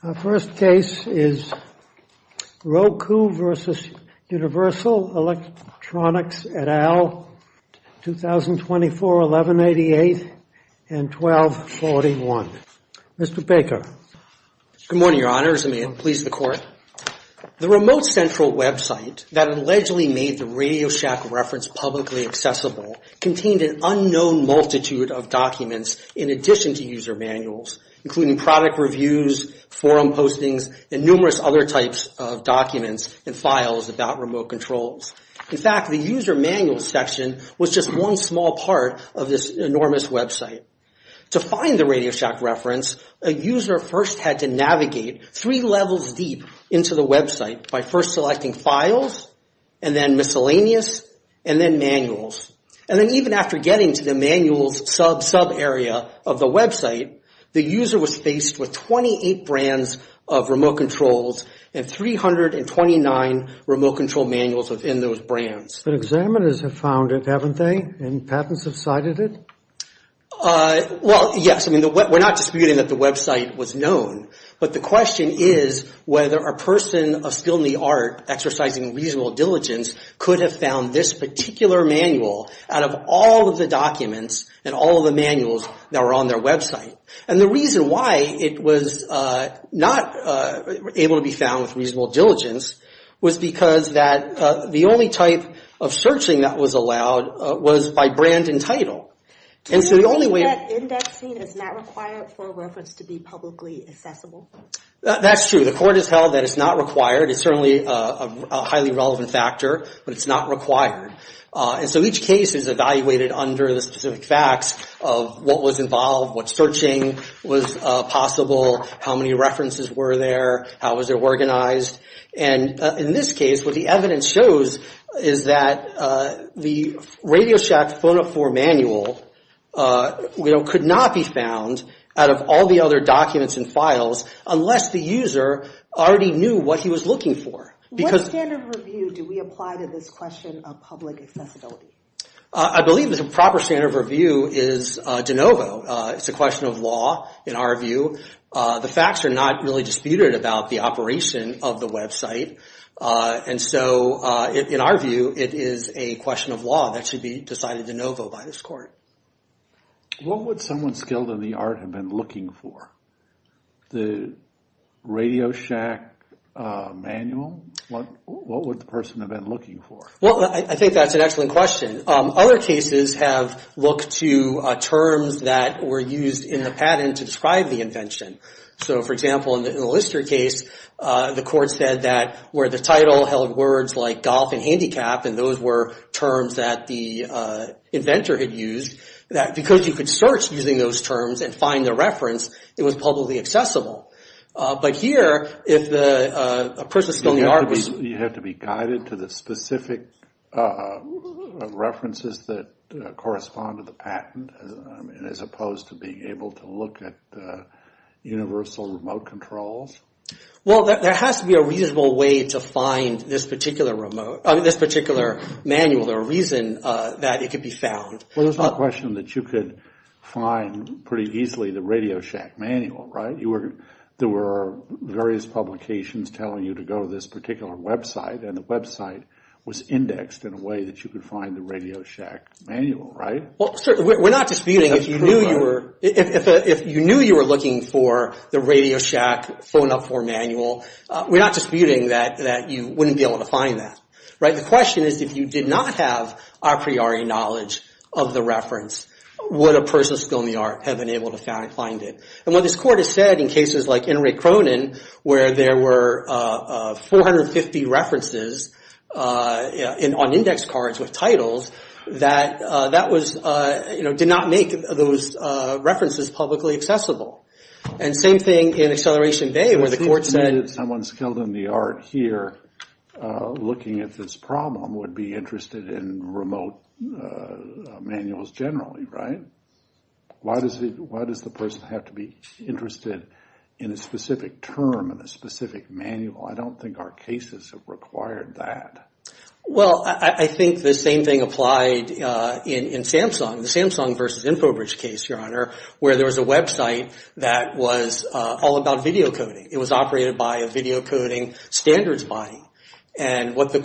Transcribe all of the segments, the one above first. Our first case is Roku v. Universal Electronics et al., 2024, 1188 and 1241. Mr. Baker. Good morning, Your Honors, and may it please the Court. The remote central website that allegedly made the RadioShack reference publicly accessible contained an unknown multitude of documents in addition to user manuals, including product reviews, forum postings, and numerous other types of documents and files about remote controls. In fact, the user manuals section was just one small part of this enormous website. To find the RadioShack reference, a user first had to navigate three levels deep into the website by first selecting files, and then miscellaneous, and then manuals. And then even after getting to the manuals sub-sub area of the website, the user was faced with 28 brands of remote controls and 329 remote control manuals within those brands. But examiners have found it, haven't they? And patents have cited it? Well, yes. I mean, we're not disputing that the website was known. But the question is whether a person of skill in the art exercising reasonable diligence could have found this particular manual out of all of the documents and all of the manuals that were on their website. And the reason why it was not able to be found with reasonable diligence was because that the only type of searching that was allowed was by brand and title. And so the only way... Do you think that indexing is not required for a reference to be publicly accessible? That's true. The court has held that it's not required. It's certainly a highly relevant factor, but it's not required. And so each case is evaluated under the specific facts of what was involved, what searching was possible, how many references were there, how was it organized. And in this case, what the evidence shows is that the RadioShack Phone-Up 4 manual could not be found out of all the other documents and files unless the user already knew what he was looking for. What standard of review do we apply to this question of public accessibility? I believe the proper standard of review is de novo. It's a question of law in our view. The facts are not really disputed about the operation of the website. And so in our view, it is a question of law that should be decided de novo by this court. What would someone skilled in the art have been looking for? The RadioShack manual? What would the person have been looking for? Well, I think that's an excellent question. Other cases have looked to terms that were used in the patent to describe the invention. So, for example, in the Lister case, the court said that where the title held words like golf and handicap, and those were terms that the inventor had used, that because you could search using those terms and find the reference, it was publicly accessible. But here, if the person skilled in the art was... You have to be guided to the specific references that correspond to the patent, as opposed to being able to look at universal remote controls? Well, there has to be a reasonable way to find this particular manual or reason that it could be found. Well, there's no question that you could find pretty easily the RadioShack manual, right? There were various publications telling you to go to this particular website, and the website was indexed in a way that you could find the RadioShack manual, right? Well, certainly. We're not disputing if you knew you were looking for the RadioShack phone-up form manual. We're not disputing that you wouldn't be able to find that, right? The question is, if you did not have a priori knowledge of the reference, would a person skilled in the art have been able to find it? And what this court has said in cases like Enrique Cronin, where there were 450 references on index cards with titles, that did not make those references publicly accessible. And same thing in Acceleration Bay, where the court said... Why did someone skilled in the art here, looking at this problem, would be interested in remote manuals generally, right? Why does the person have to be interested in a specific term, in a specific manual? I don't think our cases have required that. Well, I think the same thing applied in Samsung, the Samsung versus Infobridge case, Your Honor, where there was a website that was all about video coding. It was operated by a video coding standards body. And what this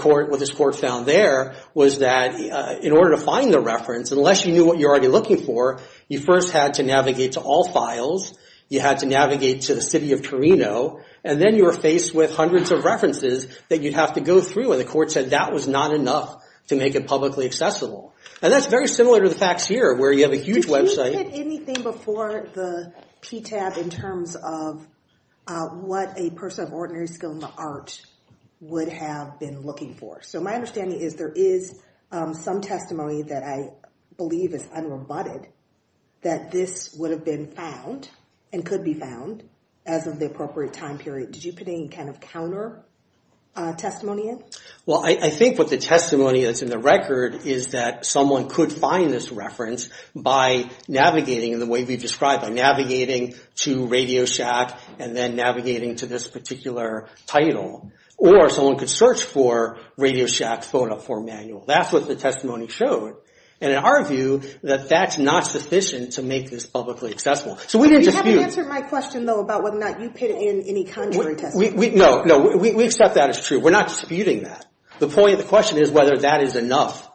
court found there was that in order to find the reference, unless you knew what you're already looking for, you first had to navigate to all files, you had to navigate to the city of Torino, and then you were faced with hundreds of references that you'd have to go through. And the court said that was not enough to make it publicly accessible. And that's very similar to the facts here, where you have a huge website... Did you get anything before the PTAB in terms of what a person of ordinary skill in the art would have been looking for? So my understanding is there is some testimony that I believe is unrebutted, that this would have been found and could be found as of the appropriate time period. Did you put any kind of counter testimony in? Well, I think what the testimony that's in the record is that someone could find this reference by navigating in the way we've described, by navigating to Radio Shack and then navigating to this particular title, or someone could search for Radio Shack's phone up form manual. That's what the testimony showed. And in our view, that that's not sufficient to make this publicly accessible. So we didn't dispute... You haven't answered my question, though, about whether or not you put in any contrary testimony. No, we accept that as true. We're not disputing that. The point of the question is whether that is enough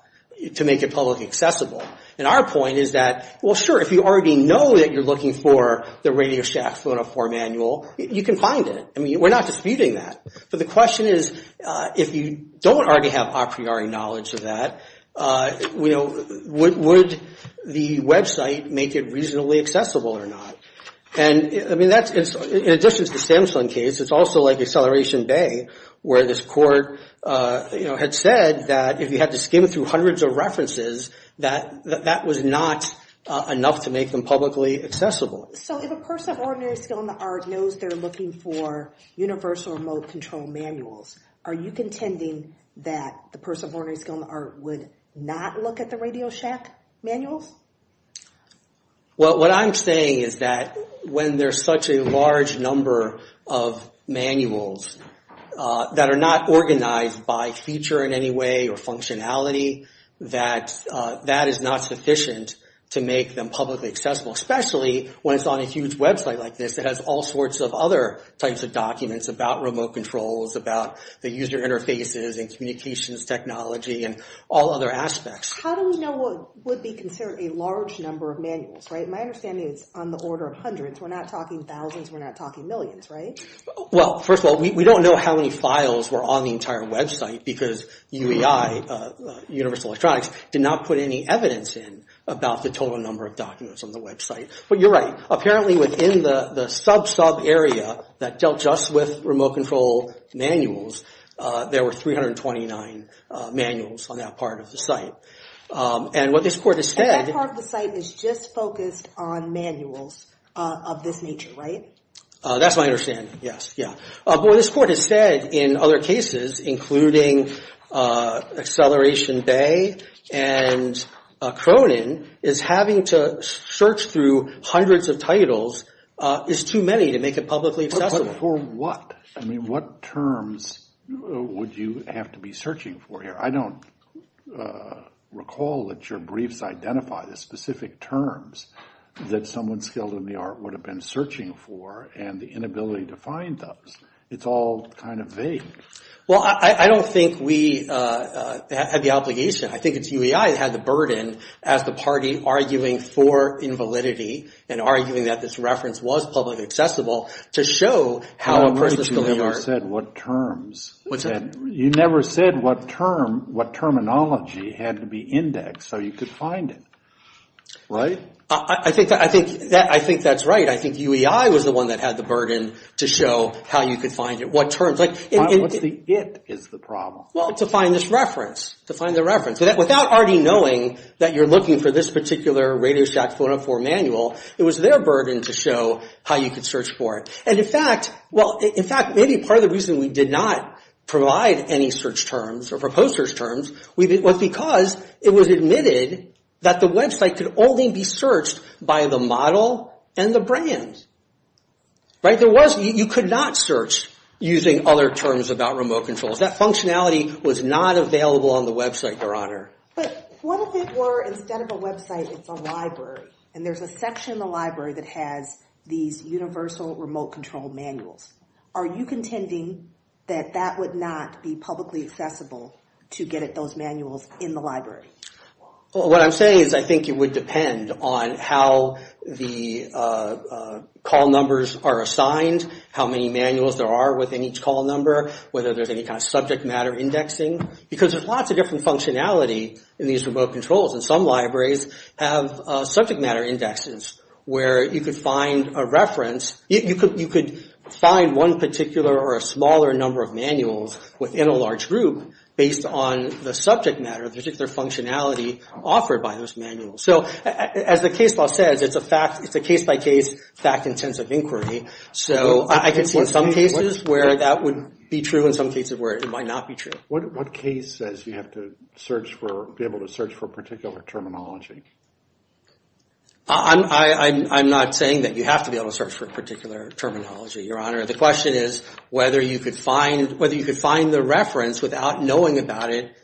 to make it publicly accessible. And our point is that, well, sure, if you already know that you're looking for the Radio Shack phone up form manual, you can find it. I mean, we're not disputing that. But the question is, if you don't already have a priori knowledge of that, would the website make it reasonably accessible or not? And I mean, that's in addition to the Samsung case. It's also like Acceleration Bay, where this court had said that if you had to skim through hundreds of references, that that was not enough to make them publicly accessible. So if a person of ordinary skill in the art knows they're looking for universal remote control manuals, are you contending that the person of ordinary skill in the art would not look at the Radio Shack manuals? Well, what I'm saying is that when there's such a large number of manuals that are not organized by feature in any way or functionality, that that is not sufficient to make them publicly accessible, especially when it's on a huge website like this that has all sorts of other types of documents about remote controls, about the user interfaces and communications technology and all other aspects. How do we know what would be considered a large number of manuals? Right. My understanding is on the order of hundreds. We're not talking thousands. We're not talking millions. Well, first of all, we don't know how many files were on the entire website because UEI, Universal Electronics, did not put any evidence in about the total number of documents on the website. But you're right. Apparently within the sub-sub area that dealt just with remote control manuals, there were 329 manuals on that part of the site. And what this court has said... And that part of the site is just focused on manuals of this nature, right? That's my understanding. Yes. Yeah. But what this court has said in other cases, including Acceleration Bay and Cronin, is having to search through hundreds of titles is too many to make it publicly accessible. For what? I mean, what terms would you have to be searching for here? I don't recall that your briefs identify the specific terms that someone skilled in the court would have been searching for and the inability to find those. It's all kind of vague. Well, I don't think we have the obligation. I think it's UEI that had the burden as the party arguing for invalidity and arguing that this reference was publicly accessible to show how a person skilled in the court... You never said what terms. You never said what term, what terminology had to be indexed so you could find it. Right? I think that's right. I think UEI was the one that had the burden to show how you could find it, what terms. What's the if is the problem? Well, to find this reference, to find the reference. Without already knowing that you're looking for this particular Radio Shack 404 manual, it was their burden to show how you could search for it. And in fact, well, in fact, maybe part of the reason we did not provide any search terms or proposers terms was because it was admitted that the website could only be searched by the model and the brand. Right? There was... You could not search using other terms about remote controls. That functionality was not available on the website, Your Honor. But what if it were instead of a website, it's a library and there's a section in the library that has these universal remote control manuals. Are you contending that that would not be publicly accessible to get at those manuals in the library? Well, what I'm saying is I think it would depend on how the call numbers are assigned, how many manuals there are within each call number, whether there's any kind of subject matter indexing, because there's lots of different functionality in these remote controls. And some libraries have subject matter indexes where you could find a reference. You could find one particular or a smaller number of manuals within a large group based on the subject matter, the particular functionality offered by those manuals. So as the case law says, it's a fact, it's a case by case, fact intensive inquiry. So I can see in some cases where that would be true, in some cases where it might not be true. What case says you have to search for, be able to search for particular terminology? I'm not saying that you have to be able to search for a particular terminology, Your Honor. The question is whether you could find whether you could find the reference without knowing about it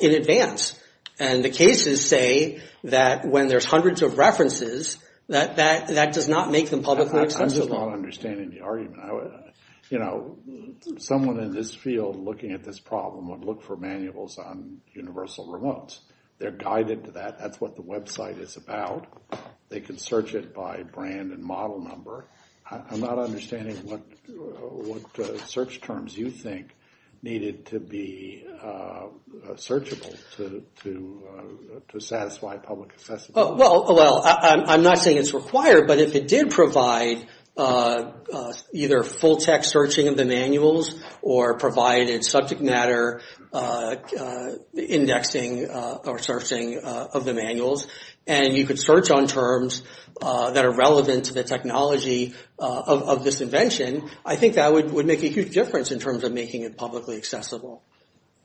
in advance. And the cases say that when there's hundreds of references, that does not make them publicly accessible. I'm just not understanding the argument. You know, someone in this field looking at this problem would look for manuals on universal remotes. They're guided to that. That's what the website is about. They can search it by brand and model number. I'm not understanding what search terms you think needed to be searchable to satisfy public access. Well, I'm not saying it's required, but if it did provide either full text searching of the manuals or provided subject matter indexing or searching of the manuals, and you could search on terms that are relevant to the technology of this invention, I think that would make a huge difference in terms of making it publicly accessible.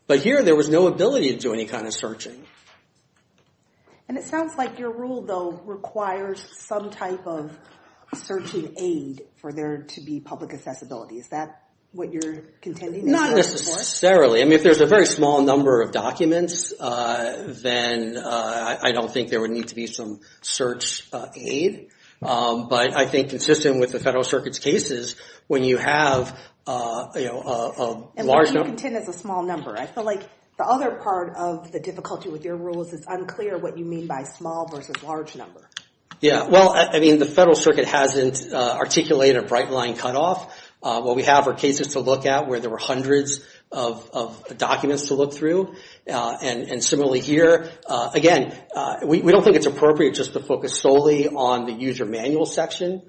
But here, there was no ability to do any kind of searching. And it sounds like your rule, though, requires some type of searching aid for there to be public accessibility. Is that what you're contending? Not necessarily. I mean, if there's a very small number of documents, then I don't think there would need to be some search aid. But I think consistent with the Federal Circuit's cases, when you have a large number. And when you contend it's a small number, I feel like the other part of the difficulty with your rules is unclear what you mean by small versus large number. Yeah. Well, I mean, the Federal Circuit hasn't articulated a bright line cutoff. What we have are cases to look at where there were hundreds of documents to look through. And similarly here, again, we don't think it's appropriate just to focus solely on the user manual section,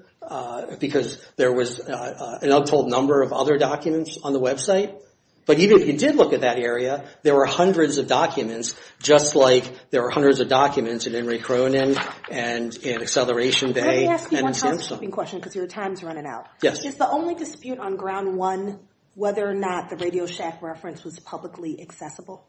because there was an untold number of other documents on the website. But even if you did look at that area, there were hundreds of documents, just like there were hundreds of documents in Henry Cronin and in Acceleration Bay. Let me ask you one housekeeping question, because your time is running out. Yes. Is the only dispute on ground one whether or not the Radio Shack reference was publicly accessible?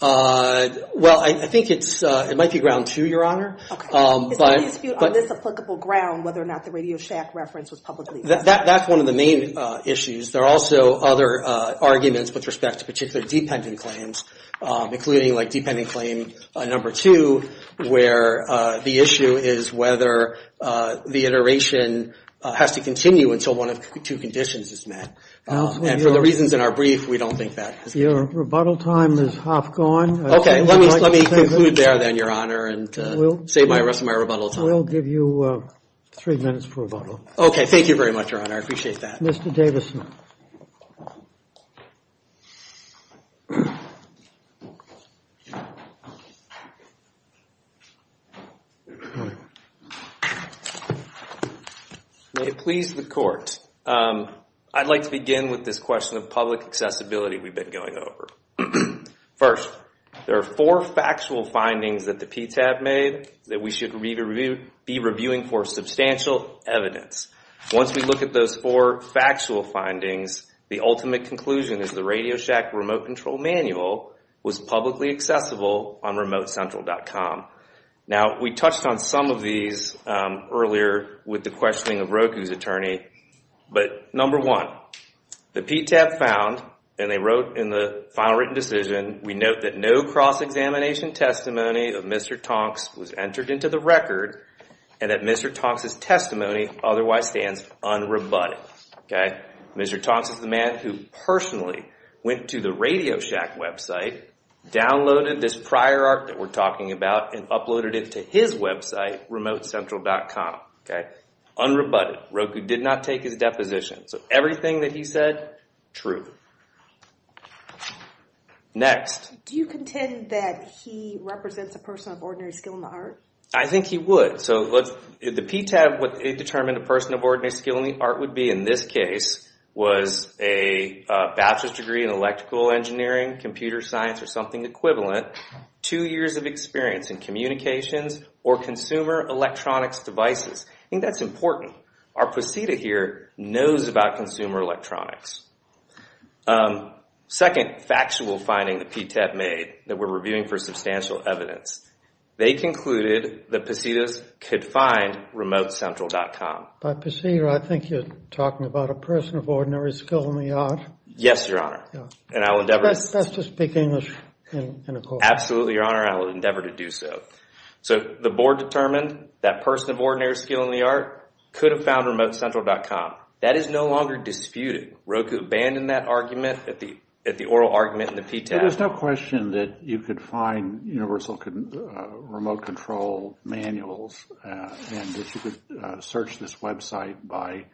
Well, I think it's it might be ground two, Your Honor. Is there a dispute on this applicable ground whether or not the Radio Shack reference was publicly accessible? That's one of the main issues. There are also other arguments with respect to particular dependent claims, including like dependent claim number two, where the issue is whether the iteration has to continue until one of the two conditions is met. And for the reasons in our brief, we don't think that. Your rebuttal time is half gone. OK. Let me conclude there then, Your Honor, and save the rest of my rebuttal time. We'll give you three minutes for rebuttal. OK. Thank you very much, Your Honor. I appreciate that. Mr. Davison. May it please the court, I'd like to begin with this question of public accessibility we've been going over. First, there are four factual findings that the PTAB made that we should be reviewing for substantial evidence. Once we look at those four factual findings, the ultimate conclusion is the Radio Shack remote control manual was publicly accessible on RemoteCentral.com. Now, we touched on some of these earlier with the questioning of Roku's attorney. But number one, the PTAB found, and they wrote in the final written decision, we note that no cross-examination testimony of Mr. Tonks was entered into the record and that Mr. Tonks' testimony otherwise stands unrebutted. Mr. Tonks is the man who personally went to the Radio Shack website, downloaded this prior art that we're talking about, and uploaded it to his website, RemoteCentral.com. Unrebutted. Roku did not take his deposition. So everything that he said, true. Next. Do you contend that he represents a person of ordinary skill in the art? I think he would. So the PTAB, what it determined a person of ordinary skill in the art would be in this case was a bachelor's degree in electrical engineering, computer science, or something equivalent, two years of experience in communications or consumer electronics devices. I think that's important. Our PCETA here knows about consumer electronics. Second factual finding the PTAB made that we're reviewing for substantial evidence. They concluded that PCETAs could find RemoteCentral.com. By PCETA, I think you're talking about a person of ordinary skill in the art. Yes, Your Honor. And I will endeavor... That's to speak English in a court. Absolutely, Your Honor. I will endeavor to do so. So the board determined that person of ordinary skill in the art could have found RemoteCentral.com. That is no longer disputed. Roku abandoned that argument at the oral argument in the PTAB. There's no question that you could find universal remote control manuals and that you could search this website by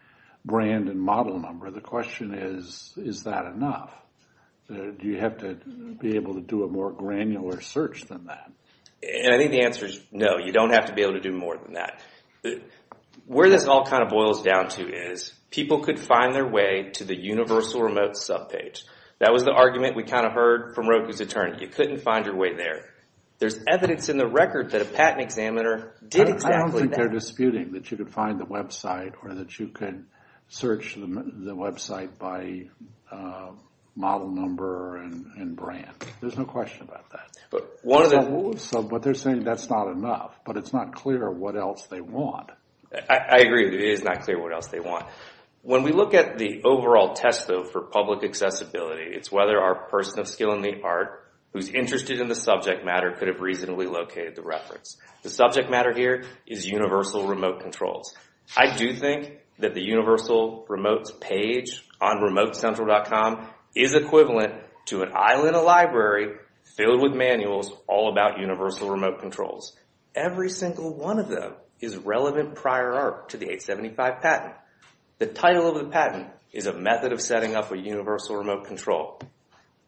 brand and model number. The question is, is that enough? Do you have to be able to do a more granular search than that? And I think the answer is no, you don't have to be able to do more than that. Where this all kind of boils down to is people could find their way to the universal remote subpage. That was the argument we kind of heard from Roku's attorney. You couldn't find your way there. There's evidence in the record that a patent examiner did exactly that. I don't think they're disputing that you could find the website or that you could search the website by model number and brand. There's no question about that. But one of the... So what they're saying, that's not enough, but it's not clear what else they want. I agree. It is not clear what else they want. When we look at the overall test, though, for public accessibility, it's whether our person of skill in the art who's interested in the subject matter could have reasonably located the reference. The subject matter here is universal remote controls. I do think that the universal remote's page on remotecentral.com is equivalent to an aisle in a library filled with manuals all about universal remote controls. Every single one of them is relevant prior art to the 875 patent. The title of the patent is a method of setting up a universal remote control.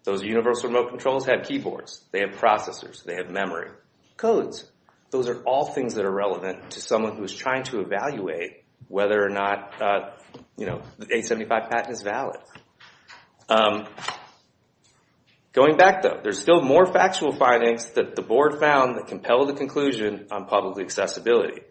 Those universal remote controls have keyboards, they have processors, they have memory, codes. Those are all things that are relevant to someone who is trying to evaluate whether or not, you know, the 875 patent is valid. Going back, though, there's still more factual findings that the board found that compelled the conclusion on public accessibility.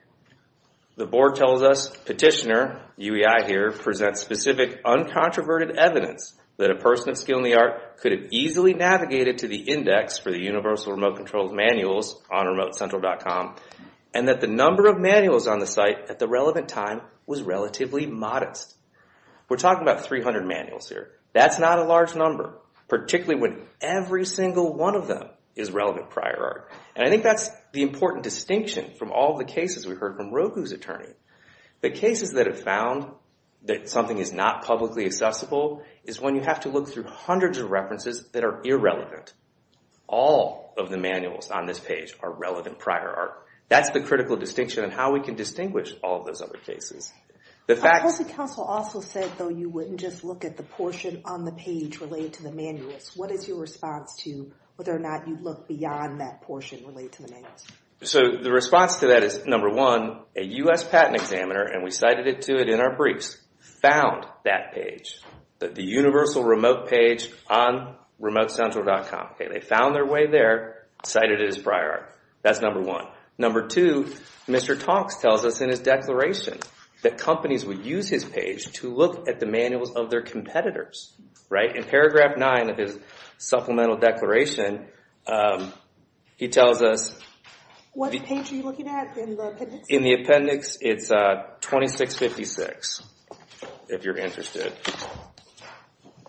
The board tells us petitioner, UEI here, presents specific uncontroverted evidence that a person of skill in the art could have easily navigated to the index for the universal remote controls manuals on remotecentral.com and that the number of manuals on the site at the relevant time was relatively modest. We're talking about 300 manuals here. That's not a large number, particularly when every single one of them is relevant prior art. And I think that's the important distinction from all the cases we heard from Roku's attorney. The cases that have found that something is not publicly accessible is when you have to look through hundreds of references that are irrelevant. All of the manuals on this page are relevant prior art. That's the critical distinction on how we can distinguish all of those other cases. The fact... The council also said, though, you wouldn't just look at the portion on the page related to the manuals. What is your response to whether or not you'd look beyond that portion related to the manuals? So the response to that is, number one, a U.S. patent examiner, and we cited it to it in our briefs, found that page, the universal remote page on remotecentral.com. They found their way there, cited it as prior art. That's number one. Number two, Mr. Talks tells us in his declaration that companies would use his page to look at the manuals of their competitors. Right? In paragraph nine of his supplemental declaration, he tells us... What page are you looking at in the appendix? In the appendix, it's 2656, if you're interested.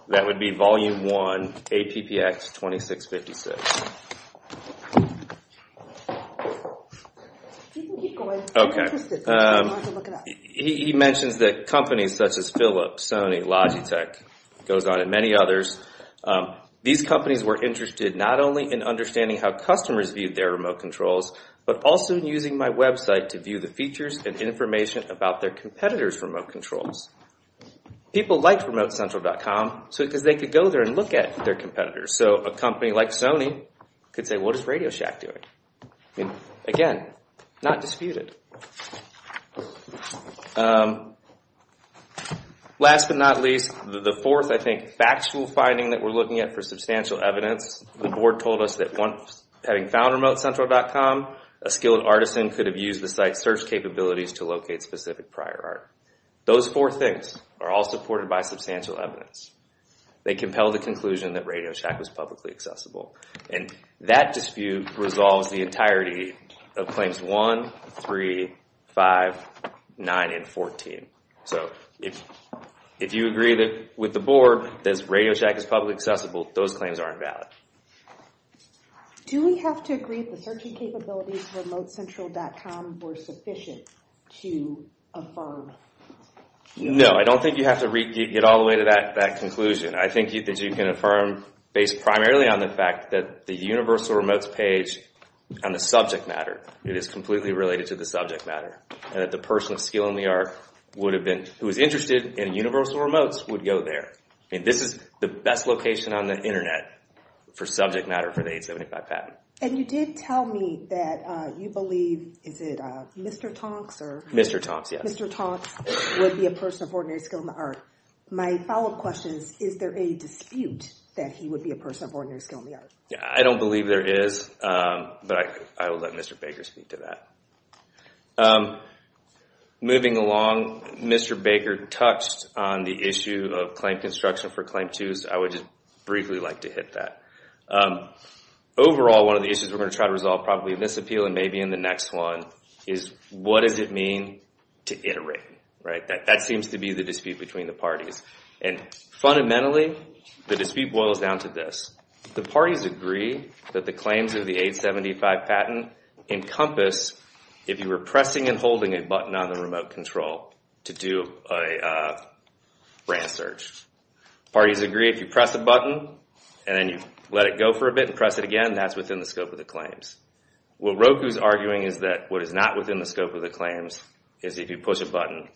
That would be volume one, APPX 2656. You can keep going, I'm interested, I want to look it up. He mentions that companies such as Philips, Sony, Logitech, goes on and many others. These companies were interested not only in understanding how customers viewed their remote controls, but also in using my website to view the features and information about their competitors' remote controls. People liked remotecentral.com because they could go there and look at their competitors. So a company like Sony could say, what is RadioShack doing? Again, not disputed. Last but not least, the fourth, I think, factual finding that we're looking at for substantial evidence, the board told us that having found remotecentral.com, a skilled artisan could have used the site's search capabilities to locate specific prior art. Those four things are all supported by substantial evidence. They compel the conclusion that RadioShack was publicly accessible. And that dispute resolves the entirety of claims 1, 3, 5, 9, and 14. So if you agree with the board that RadioShack is publicly accessible, those claims aren't valid. Do we have to agree that the searching capabilities of remotecentral.com were sufficient to affirm? No, I don't think you have to get all the way to that conclusion. I think that you can affirm based primarily on the fact that the universal remotes page on the subject matter, it is completely related to the subject matter. And that the person of skill in the art would have been, who is interested in universal remotes, would go there. I mean, this is the best location on the internet for subject matter for the 875 patent. And you did tell me that you believe, is it Mr. Tonks or? Mr. Tonks, yes. Mr. Tonks would be a person of ordinary skill in the art. My follow-up question is, is there a dispute that he would be a person of ordinary skill in the art? Yeah, I don't believe there is. But I will let Mr. Baker speak to that. Moving along, Mr. Baker touched on the issue of claim construction for claim 2s. I would just briefly like to hit that. Overall, one of the issues we're going to try to resolve probably in this appeal and maybe in the next one is, what does it mean to iterate, right? That seems to be the dispute between the parties. And fundamentally, the dispute boils down to this. The parties agree that the claims of the 875 patent encompass if you were pressing and holding a button on the remote control to do a brand search. Parties agree if you press a button and then you let it go for a bit and press it again, that's within the scope of the claims. What Roku is arguing is that what is not within the scope of the claims is if you push a button,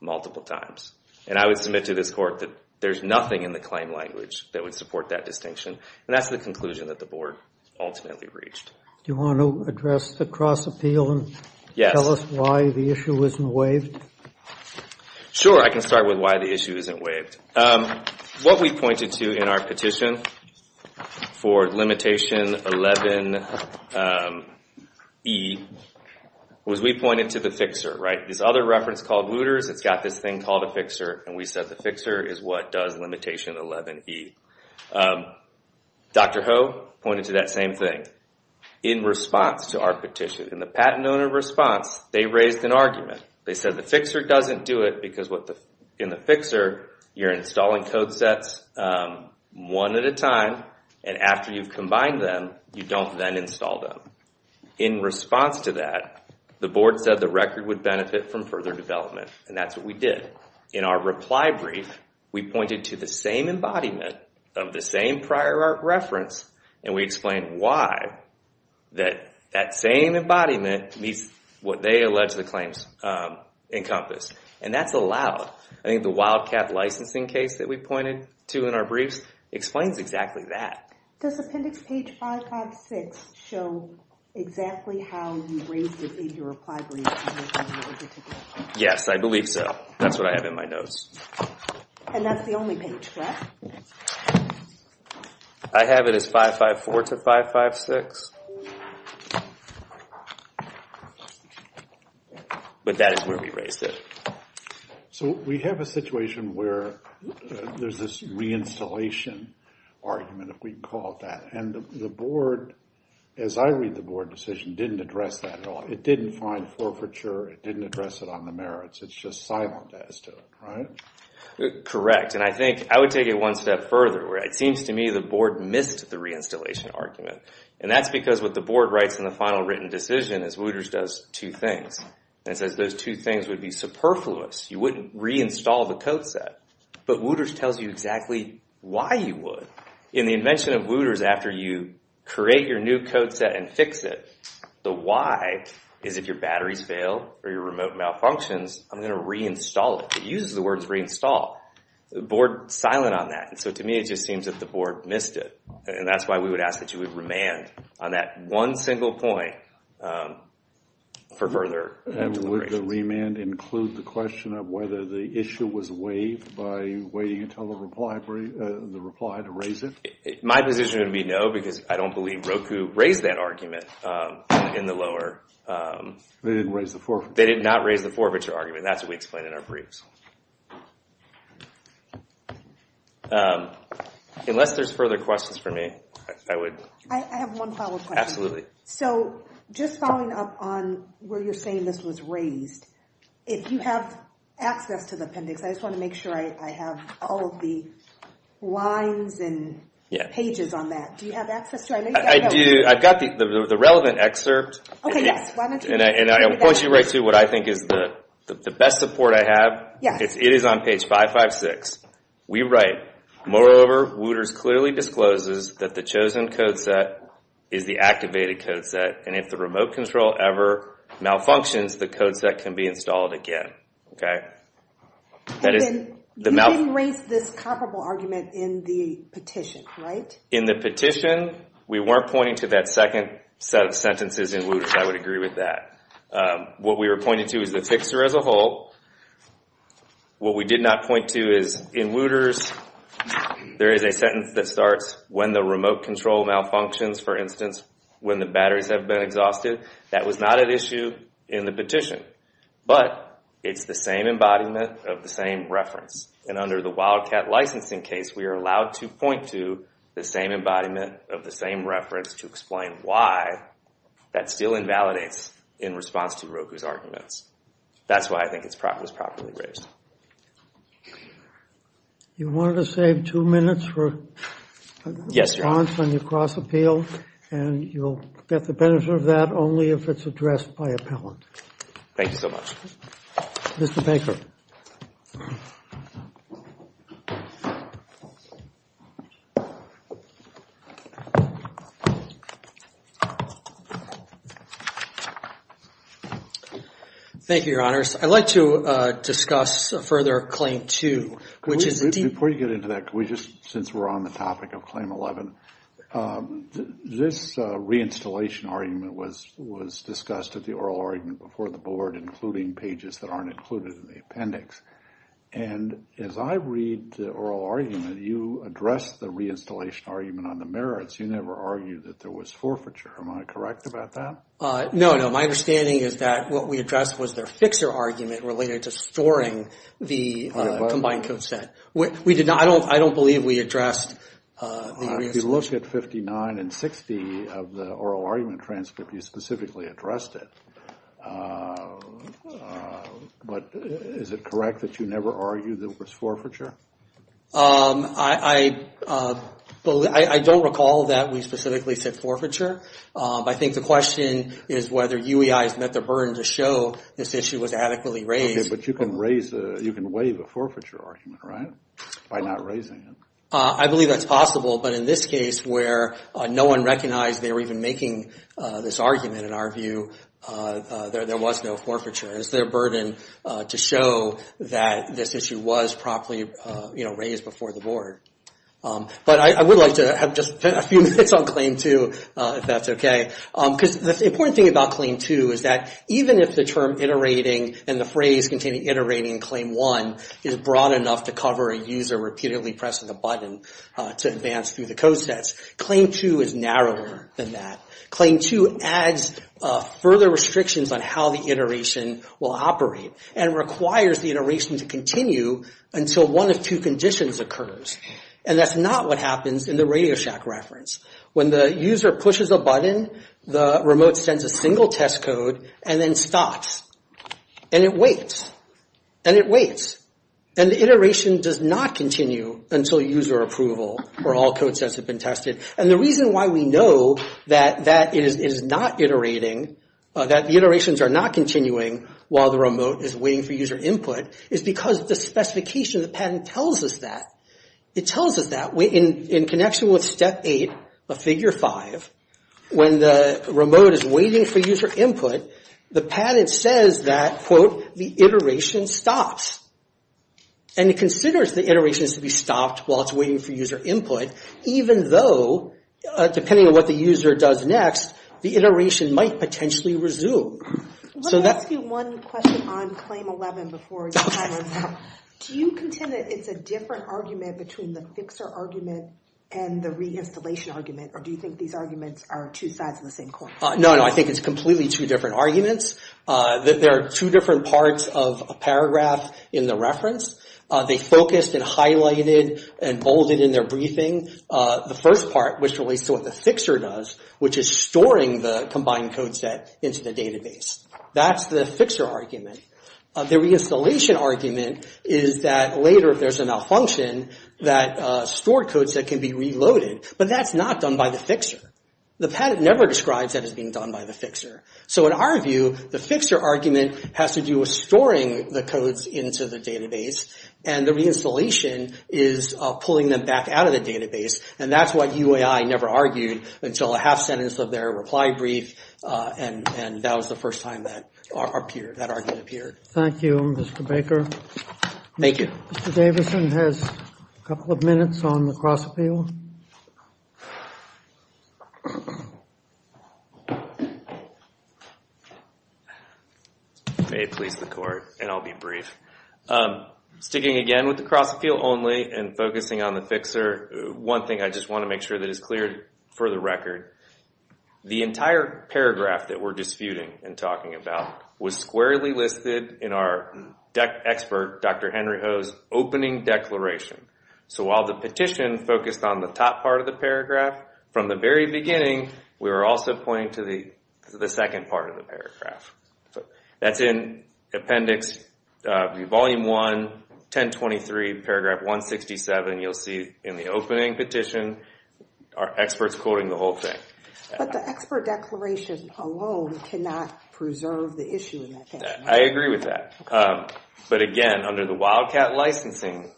multiple times. And I would submit to this court that there's nothing in the claim language that would support that distinction. And that's the conclusion that the board ultimately reached. Do you want to address the cross-appeal and tell us why the issue isn't waived? Sure, I can start with why the issue isn't waived. What we pointed to in our petition for limitation 11E was we pointed to the fixer, right? This other reference called looters, it's got this thing called a fixer. And we said the fixer is what does limitation 11E. Dr. Ho pointed to that same thing in response to our petition. In the patent owner response, they raised an argument. They said the fixer doesn't do it because in the fixer, you're installing code sets one at a time. And after you've combined them, you don't then install them. In response to that, the board said the record would benefit from further development. And that's what we did. In our reply brief, we pointed to the same embodiment of the same prior art reference. And we explained why that that same embodiment meets what they allege the claims encompass. And that's allowed. I think the Wildcat licensing case that we pointed to in our briefs explains exactly that. Does appendix page 556 show exactly how you raised it in your reply brief? Yes, I believe so. That's what I have in my notes. And that's the only page, correct? I have it as 554 to 556. But that is where we raised it. So we have a situation where there's this reinstallation argument, if we can call it that. And the board, as I read the board decision, didn't address that at all. It didn't find forfeiture. It didn't address it on the merits. It's just silent as to it, right? Correct. And I think I would take it one step further, where it seems to me the board missed the reinstallation argument. And that's because what the board writes in the final written decision is Wooters does two things. And it says those two things would be superfluous. You wouldn't reinstall the code set. But Wooters tells you exactly why you would. In the invention of Wooters, after you create your new code set and fix it, the why is if your batteries fail or your remote malfunctions, I'm going to reinstall it. It uses the words reinstall. The board is silent on that. And so to me, it just seems that the board missed it. And that's why we would ask that you would remand on that one single point for further deliberations. Would the remand include the question of whether the issue was waived by waiting until the reply to raise it? My position would be no, because I don't believe Roku raised that argument in the lower. They didn't raise the forfeiture. They did not raise the forfeiture argument. That's what we explain in our briefs. Unless there's further questions for me, I would... I have one follow-up question. Absolutely. So just following up on where you're saying this was raised, if you have access to the appendix, I just want to make sure I have all of the lines and pages on that. Do you have access to it? I do. I've got the relevant excerpt. And I will point you right to what I think is the best support I have. It is on page 556. We write, moreover, Wooters clearly discloses that the chosen code set is the activated code set, and if the remote control ever malfunctions, the code set can be installed again. And then you didn't raise this comparable argument in the petition, right? In the petition, we weren't pointing to that second set of sentences in Wooters. I would agree with that. What we were pointing to is the fixer as a whole. What we did not point to is in Wooters, there is a sentence that starts, when the remote batteries have been exhausted. That was not an issue in the petition. But it's the same embodiment of the same reference. And under the Wildcat licensing case, we are allowed to point to the same embodiment of the same reference to explain why that still invalidates in response to Roku's arguments. That's why I think it was properly raised. You wanted to save two minutes for a response on your cross-appeal, and you'll get the benefit of that only if it's addressed by appellant. Thank you so much. Mr. Baker. Thank you, Your Honors. I'd like to discuss further Claim 2. Before you get into that, since we're on the topic of Claim 11, this reinstallation argument was discussed at the oral argument before the board, including pages that aren't included in the appendix. And as I read the oral argument, you addressed the reinstallation argument on the merits. You never argued that there was forfeiture. Am I correct about that? No, no. My understanding is that what we addressed was their fixer argument related to storing the combined code set. I don't believe we addressed the reinstallation. If you look at 59 and 60 of the oral argument transcript, you specifically addressed it. But is it correct that you never argued there was forfeiture? I don't recall that we specifically said forfeiture. I think the question is whether UEI has met the burden to show this issue was adequately raised. But you can raise, you can waive a forfeiture argument, right, by not raising it? I believe that's possible. But in this case, where no one recognized they were even making this argument, in our view, there was no forfeiture. It was their burden to show that this issue was properly raised before the board. But I would like to have just a few minutes on Claim 2, if that's okay. Because the important thing about Claim 2 is that even if the term iterating and the phrase containing iterating in Claim 1 is broad enough to cover a user repeatedly pressing the button to advance through the code sets, Claim 2 is narrower than that. Claim 2 adds further restrictions on how the iteration will operate and requires the iteration to continue until one of two conditions occurs. And that's not what happens in the RadioShack reference. When the user pushes a button, the remote sends a single test code and then stops. And it waits. And it waits. And the iteration does not continue until user approval or all code sets have been tested. And the reason why we know that that is not iterating, that the iterations are not continuing while the remote is waiting for user input, is because the specification of the patent tells us that. It tells us that in connection with Step 8 of Figure 5, when the remote is waiting for user input, the patent says that, quote, the iteration stops. And it considers the iterations to be stopped while it's waiting for user input, even though, depending on what the user does next, the iteration might potentially resume. Let me ask you one question on Claim 11 before we move on. Do you contend that it's a different argument between the fixer argument and the reinstallation argument? Or do you think these arguments are two sides of the same coin? No, no. I think it's completely two different arguments. There are two different parts of a paragraph in the reference. They focused and highlighted and bolded in their briefing. The first part, which relates to what the fixer does, which is storing the combined code set into the database. That's the fixer argument. The reinstallation argument is that later, if there's a malfunction, that stored code set can be reloaded. But that's not done by the fixer. The patent never describes that as being done by the fixer. So in our view, the fixer argument has to do with storing the codes into the database. And the reinstallation is pulling them back out of the database. And that's what UAI never argued until a half sentence of their reply brief. And that was the first time that argument appeared. Thank you, Mr. Baker. Thank you. Mr. Davison has a couple of minutes on the cross-appeal. May it please the court, and I'll be brief. Sticking again with the cross-appeal only and focusing on the fixer. One thing I just want to make sure that is clear for the record. The entire paragraph that we're disputing and talking about was squarely listed in our expert, Dr. Henry Ho's opening declaration. So while the petition focused on the top part of the paragraph, from the very beginning, we were also pointing to the second part of the paragraph. That's in Appendix Volume 1, 1023, Paragraph 167. You'll see in the opening petition, our experts quoting the whole thing. But the expert declaration alone cannot preserve the issue in that case. I agree with that. But again, under the Wildcat licensing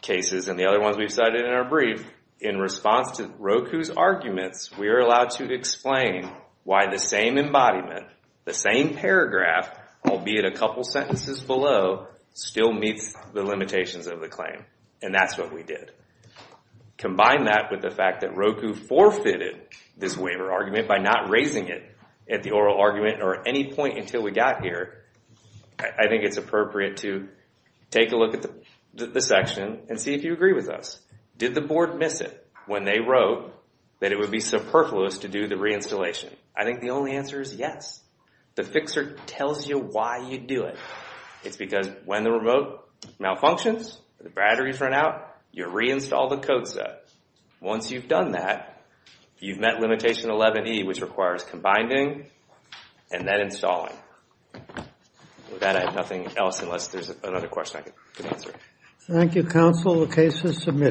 cases and the other ones we've cited in our brief, in response to Roku's arguments, we are allowed to explain why the same embodiment, the same paragraph, albeit a couple sentences below, still meets the limitations of the claim. And that's what we did. Combine that with the fact that Roku forfeited this waiver argument by not raising it at the oral argument or at any point until we got here, I think it's appropriate to take a look at the section and see if you agree with us. Did the board miss it when they wrote that it would be superfluous to do the reinstallation? I think the only answer is yes. The fixer tells you why you do it. It's because when the remote malfunctions, the batteries run out, you reinstall the code set. Once you've done that, you've met limitation 11E, which requires combining and then installing. With that, I have nothing else unless there's another question I could answer. Thank you, counsel. The case is submitted.